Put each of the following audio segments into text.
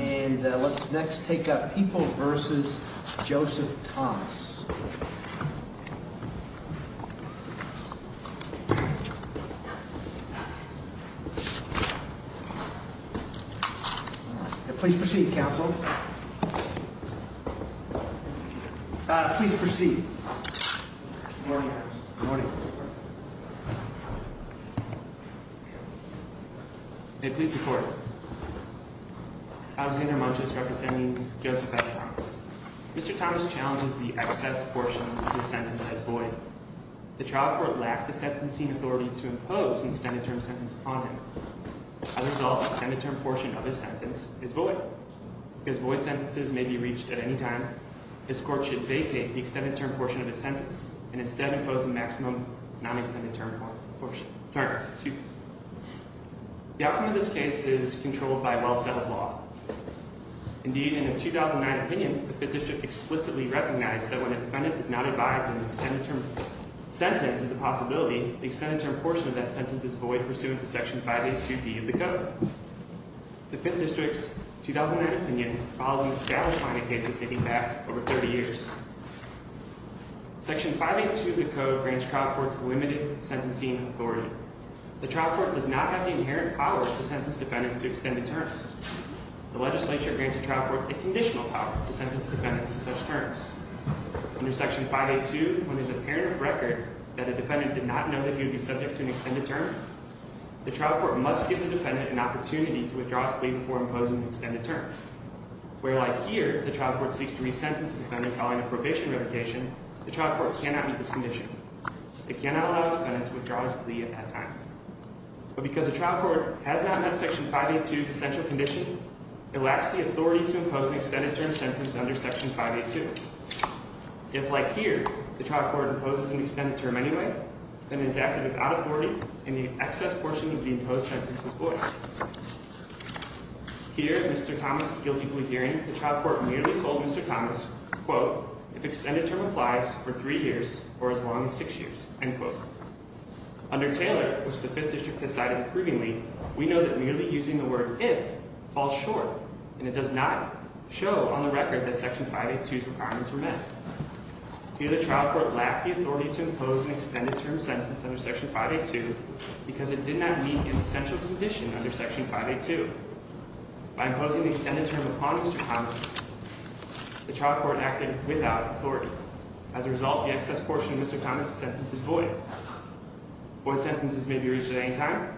And let's next take up People v. Joseph Thomas. Please proceed, Counsel. Please proceed. Good morning, Counsel. Good morning. Good morning. May it please the Court. Alexander Montes representing Joseph S. Thomas. Mr. Thomas challenges the excess portion of his sentence as void. The trial court lacked the sentencing authority to impose an extended-term sentence upon him. As a result, the extended-term portion of his sentence is void. Because void sentences may be reached at any time, his court should vacate the extended-term portion of his sentence and instead impose the maximum non-extended-term portion. The outcome of this case is controlled by well-settled law. Indeed, in a 2009 opinion, the Fifth District explicitly recognized that when a defendant is not advised that an extended-term sentence is a possibility, the extended-term portion of that sentence is void pursuant to Section 582B of the Code. The Fifth District's 2009 opinion follows an established line of cases dating back over 30 years. Section 582 of the Code grants trial courts limited sentencing authority. The trial court does not have the inherent power to sentence defendants to extended terms. The legislature grants the trial courts a conditional power to sentence defendants to such terms. Under Section 582, when it is apparent of record that a defendant did not know that he would be subject to an extended term, the trial court must give the defendant an opportunity to withdraw his plea before imposing the extended term. Where, like here, the trial court seeks to resentence the defendant calling a probation revocation, the trial court cannot meet this condition. It cannot allow the defendant to withdraw his plea at that time. But because the trial court has not met Section 582's essential condition, it lacks the authority to impose an extended-term sentence under Section 582. If, like here, the trial court imposes an extended term anyway, then it is acted without authority, and the excess portion of the imposed sentence is voided. Here, in Mr. Thomas' guilty plea hearing, the trial court merely told Mr. Thomas, quote, if extended term applies for three years or as long as six years, end quote. Under Taylor, which the Fifth District has cited approvingly, we know that merely using the word if falls short, and it does not show on the record that Section 582's requirements were met. Here, the trial court lacked the authority to impose an extended-term sentence under Section 582 because it did not meet an essential condition under Section 582. By imposing the extended term upon Mr. Thomas, the trial court acted without authority. As a result, the excess portion of Mr. Thomas' sentence is void. Void sentences may be reached at any time.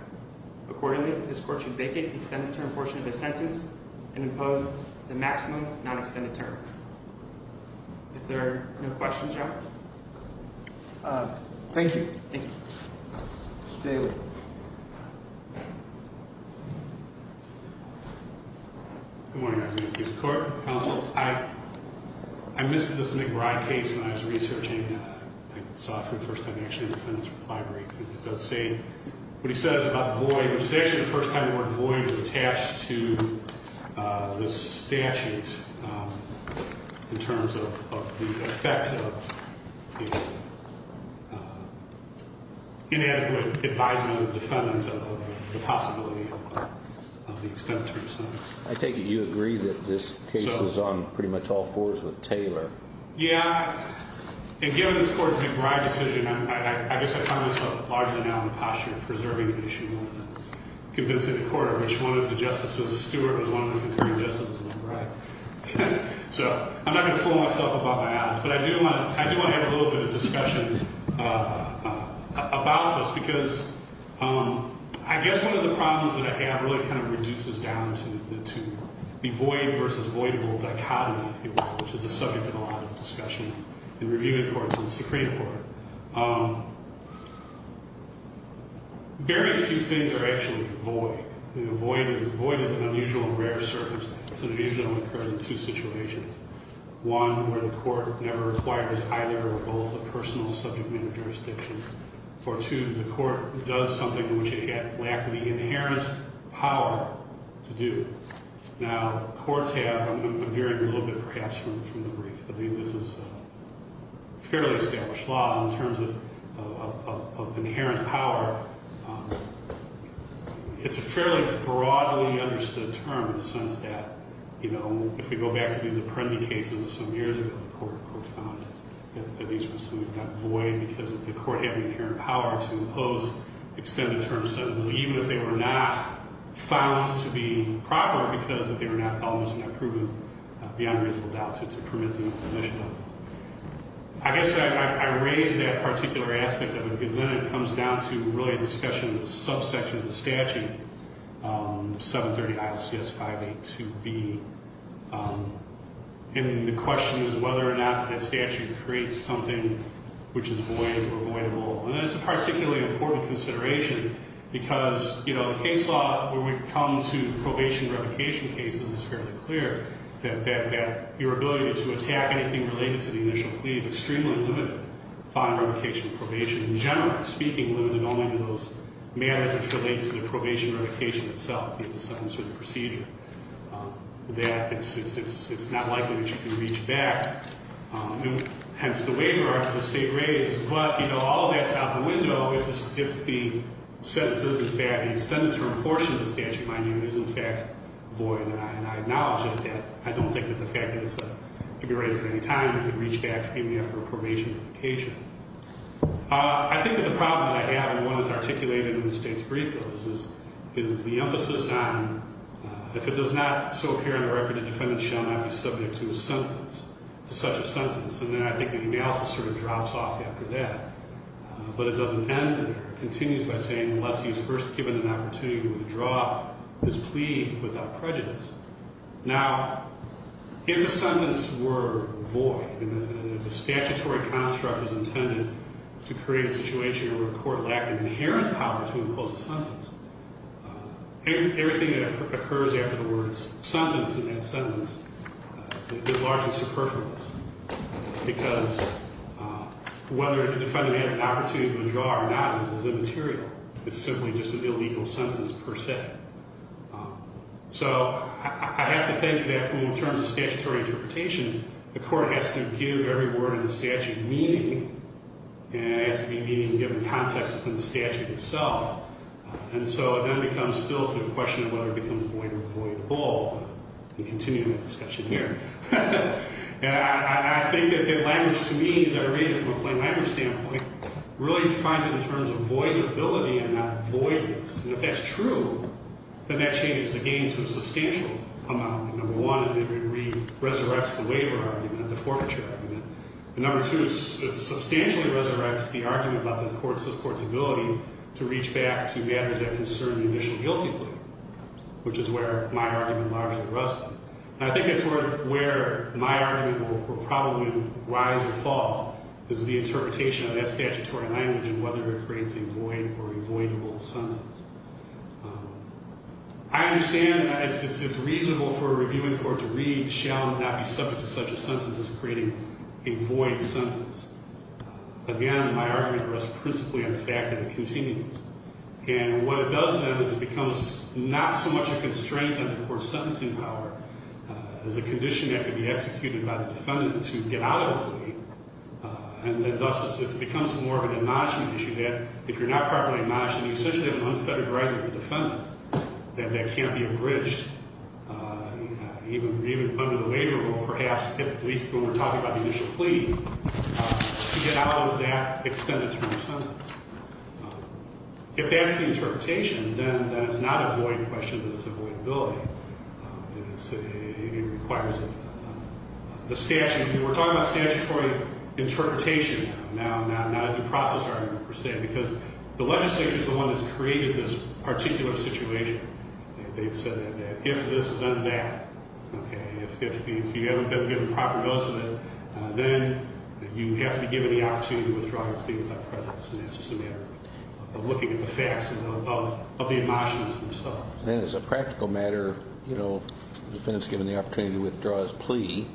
Accordingly, this court should vacate the extended-term portion of his sentence and impose the maximum non-extended term. If there are no questions, y'all. Thank you. Thank you. Mr. Taylor. Good morning, Your Honor. Mr. Court, counsel. I missed this McBride case when I was researching. I saw it for the first time, actually, in the defendant's reply brief. And it does say, what he says about the void, which is actually the first time the word void was attached to the statute. In terms of the effect of inadequate advisement of the defendant of the possibility of the extended term sentence. I take it you agree that this case was on pretty much all fours with Taylor. Yeah. And given this court's McBride decision, I guess I find myself largely now in the posture of preserving the issue and convincing the court of which one of the justices, Stewart, was one of the concurring justices of McBride. So, I'm not going to fool myself about my odds. But I do want to have a little bit of discussion about this, because I guess one of the problems that I have really kind of reduces down to the void versus voidable dichotomy, if you will, which is a subject of a lot of discussion in reviewing courts and the Supreme Court. Very few things are actually void. Void is an unusual and rare circumstance. It usually only occurs in two situations. One, where the court never requires either or both a personal subject matter jurisdiction. Or two, the court does something to which it lacked the inherent power to do. Now, courts have, I'm veering a little bit perhaps from the brief, but this is a fairly established law in terms of inherent power. It's a fairly broadly understood term in the sense that, you know, if we go back to these Apprendi cases of some years ago, the court found that these were something that got void because the court had the inherent power to impose extended term sentences, even if they were not found to be proper because they were not, beyond reasonable doubt, to permit the imposition of them. I guess I raise that particular aspect of it because then it comes down to really a discussion of the subsection of the statute, 730 ILCS 582B. And the question is whether or not that statute creates something which is void or voidable. And that's a particularly important consideration because, you know, in the case law where we come to probation revocation cases, it's fairly clear that your ability to attack anything related to the initial plea is extremely limited upon revocation and probation. In general, speaking limited only to those matters which relate to the probation revocation itself, the sentence or the procedure, that it's not likely that you can reach back. And hence, the waiver after the state raises. Well, if the sentence is, in fact, the extended term portion of the statute, mind you, is, in fact, void, and I acknowledge that, I don't think that the fact that it's to be raised at any time, you can reach back to me after a probation revocation. I think that the problem that I have, and one that's articulated in the state's brief, though, is the emphasis on if it does not so appear in the record, the defendant shall not be subject to a sentence, to such a sentence. And then I think the analysis sort of drops off after that. But it doesn't end there. It continues by saying, unless he's first given an opportunity to withdraw his plea without prejudice. Now, if a sentence were void, and if the statutory construct was intended to create a situation where a court lacked an inherent power to impose a sentence, everything that occurs after the words sentence in that sentence is largely superfluous. Because whether the defendant has an opportunity to withdraw or not is immaterial. It's simply just an illegal sentence per se. So I have to think that in terms of statutory interpretation, the court has to give every word in the statute meaning, and it has to be meaning given context within the statute itself. And so it then becomes still to the question of whether it becomes void or void whole. We continue that discussion here. And I think that language to me, as I read it from a plain language standpoint, really defines it in terms of void ability and not voidness. And if that's true, then that changes the game to a substantial amount. Number one, it resurrects the waiver argument, the forfeiture argument. And number two, it substantially resurrects the argument about the court's ability to reach back to matters that concern the initial guilty plea, which is where my argument largely rests. And I think that's where my argument will probably rise or fall, is the interpretation of that statutory language and whether it creates a void or a voidable sentence. I understand it's reasonable for a reviewing court to read, shall not be subject to such a sentence as creating a void sentence. Again, my argument rests principally on the fact that it continues. And what it does then is it becomes not so much a constraint on the court's sentencing power, as a condition that can be executed by the defendant to get out of the plea. And then thus it becomes more of an admonishment issue that if you're not properly admonished and you essentially have an unfettered right with the defendant, that that can't be abridged even under the waiver rule, perhaps at least when we're talking about the initial plea, to get out of that extended term sentence. If that's the interpretation, then it's not a void question, it's a void ability. It requires the statute. We're talking about statutory interpretation now, not a due process argument per se, because the legislature is the one that's created this particular situation. They've said that if this is undeniable, if you haven't been given proper notice of it, then you have to be given the opportunity to withdraw your plea without prejudice. And that's just a matter of looking at the facts of the admonishments themselves. Then as a practical matter, you know, the defendant's given the opportunity to withdraw his plea.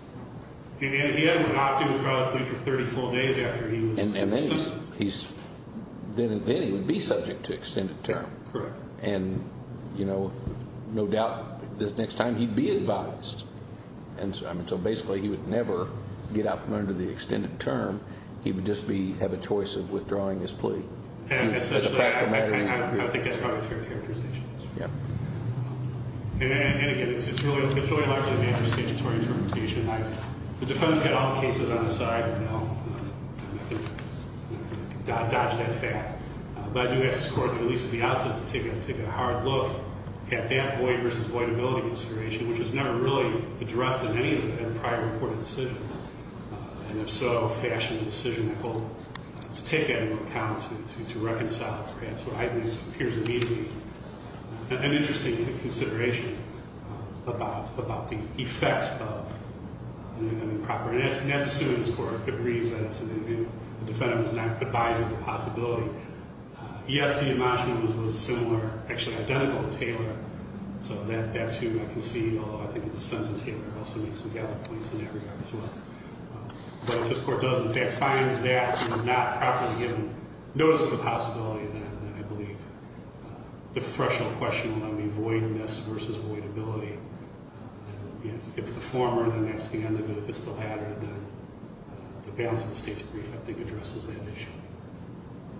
He hadn't opted to withdraw his plea for 34 days after he was suspended. Then he would be subject to extended term. Correct. And, you know, no doubt the next time he'd be advised. And so basically he would never get out from under the extended term. He would just have a choice of withdrawing his plea. I think that's probably fair characterization. Yep. And, again, it's really largely a matter of statutory interpretation. The defendant's got all the cases on his side. You know, I can dodge that fact. But I do ask this Court, at least at the outset, to take a hard look at that void versus voidability consideration, which was never really addressed in any of the prior reported decisions. And if so, fashion the decision, I hope, to take that into account to reconcile it. So I think this appears to be an interesting consideration about the effects of improperness. And that's assuming this Court agrees that the defendant was not advised of the possibility. Yes, the admonishment was similar, actually identical, to Taylor. So that's who I concede, although I think the dissent in Taylor also makes some valid points in that regard as well. But if this Court does, in fact, find that he was not properly given notice of the possibility, then I believe the threshold question will be voidness versus voidability. And if the former, then that's the end of it. If it's the latter, then the balance of the State's brief, I think, addresses that issue.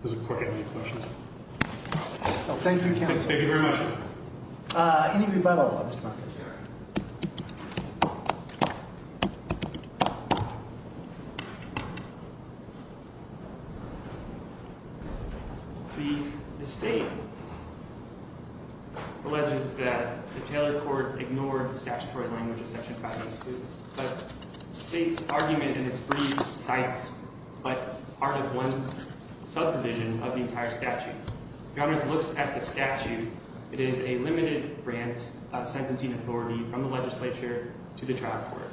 Does the Court have any questions? No. Thank you, Counsel. Thank you very much. Any rebuttal, Mr. Marquez? The State alleges that the Taylor Court ignored the statutory language of Section 582, but the State's argument in its brief cites but part of one subdivision of the entire statute. Your Honor, as it looks at the statute, it is a limited grant of sentencing authority from the legislature to the trial court.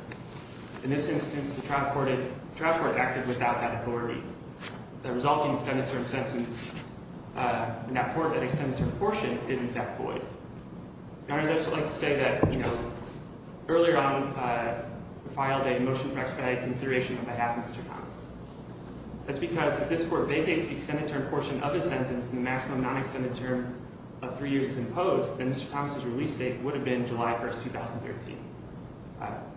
In this instance, the trial court acted without that authority. The resulting extended term sentence in that extended term portion is, in fact, void. Your Honor, I'd just like to say that, you know, earlier on we filed a motion for expedited consideration on behalf of Mr. Thomas. That's because if this Court vacates the extended term portion of his sentence and the maximum non-extended term of three years is imposed, then Mr. Thomas' release date would have been July 1, 2013.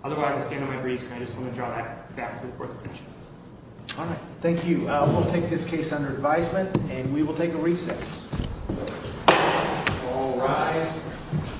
Otherwise, I stand on my briefs, and I just want to draw that back to the Court's attention. All right. Thank you. We'll take this case under advisement, and we will take a recess. All rise.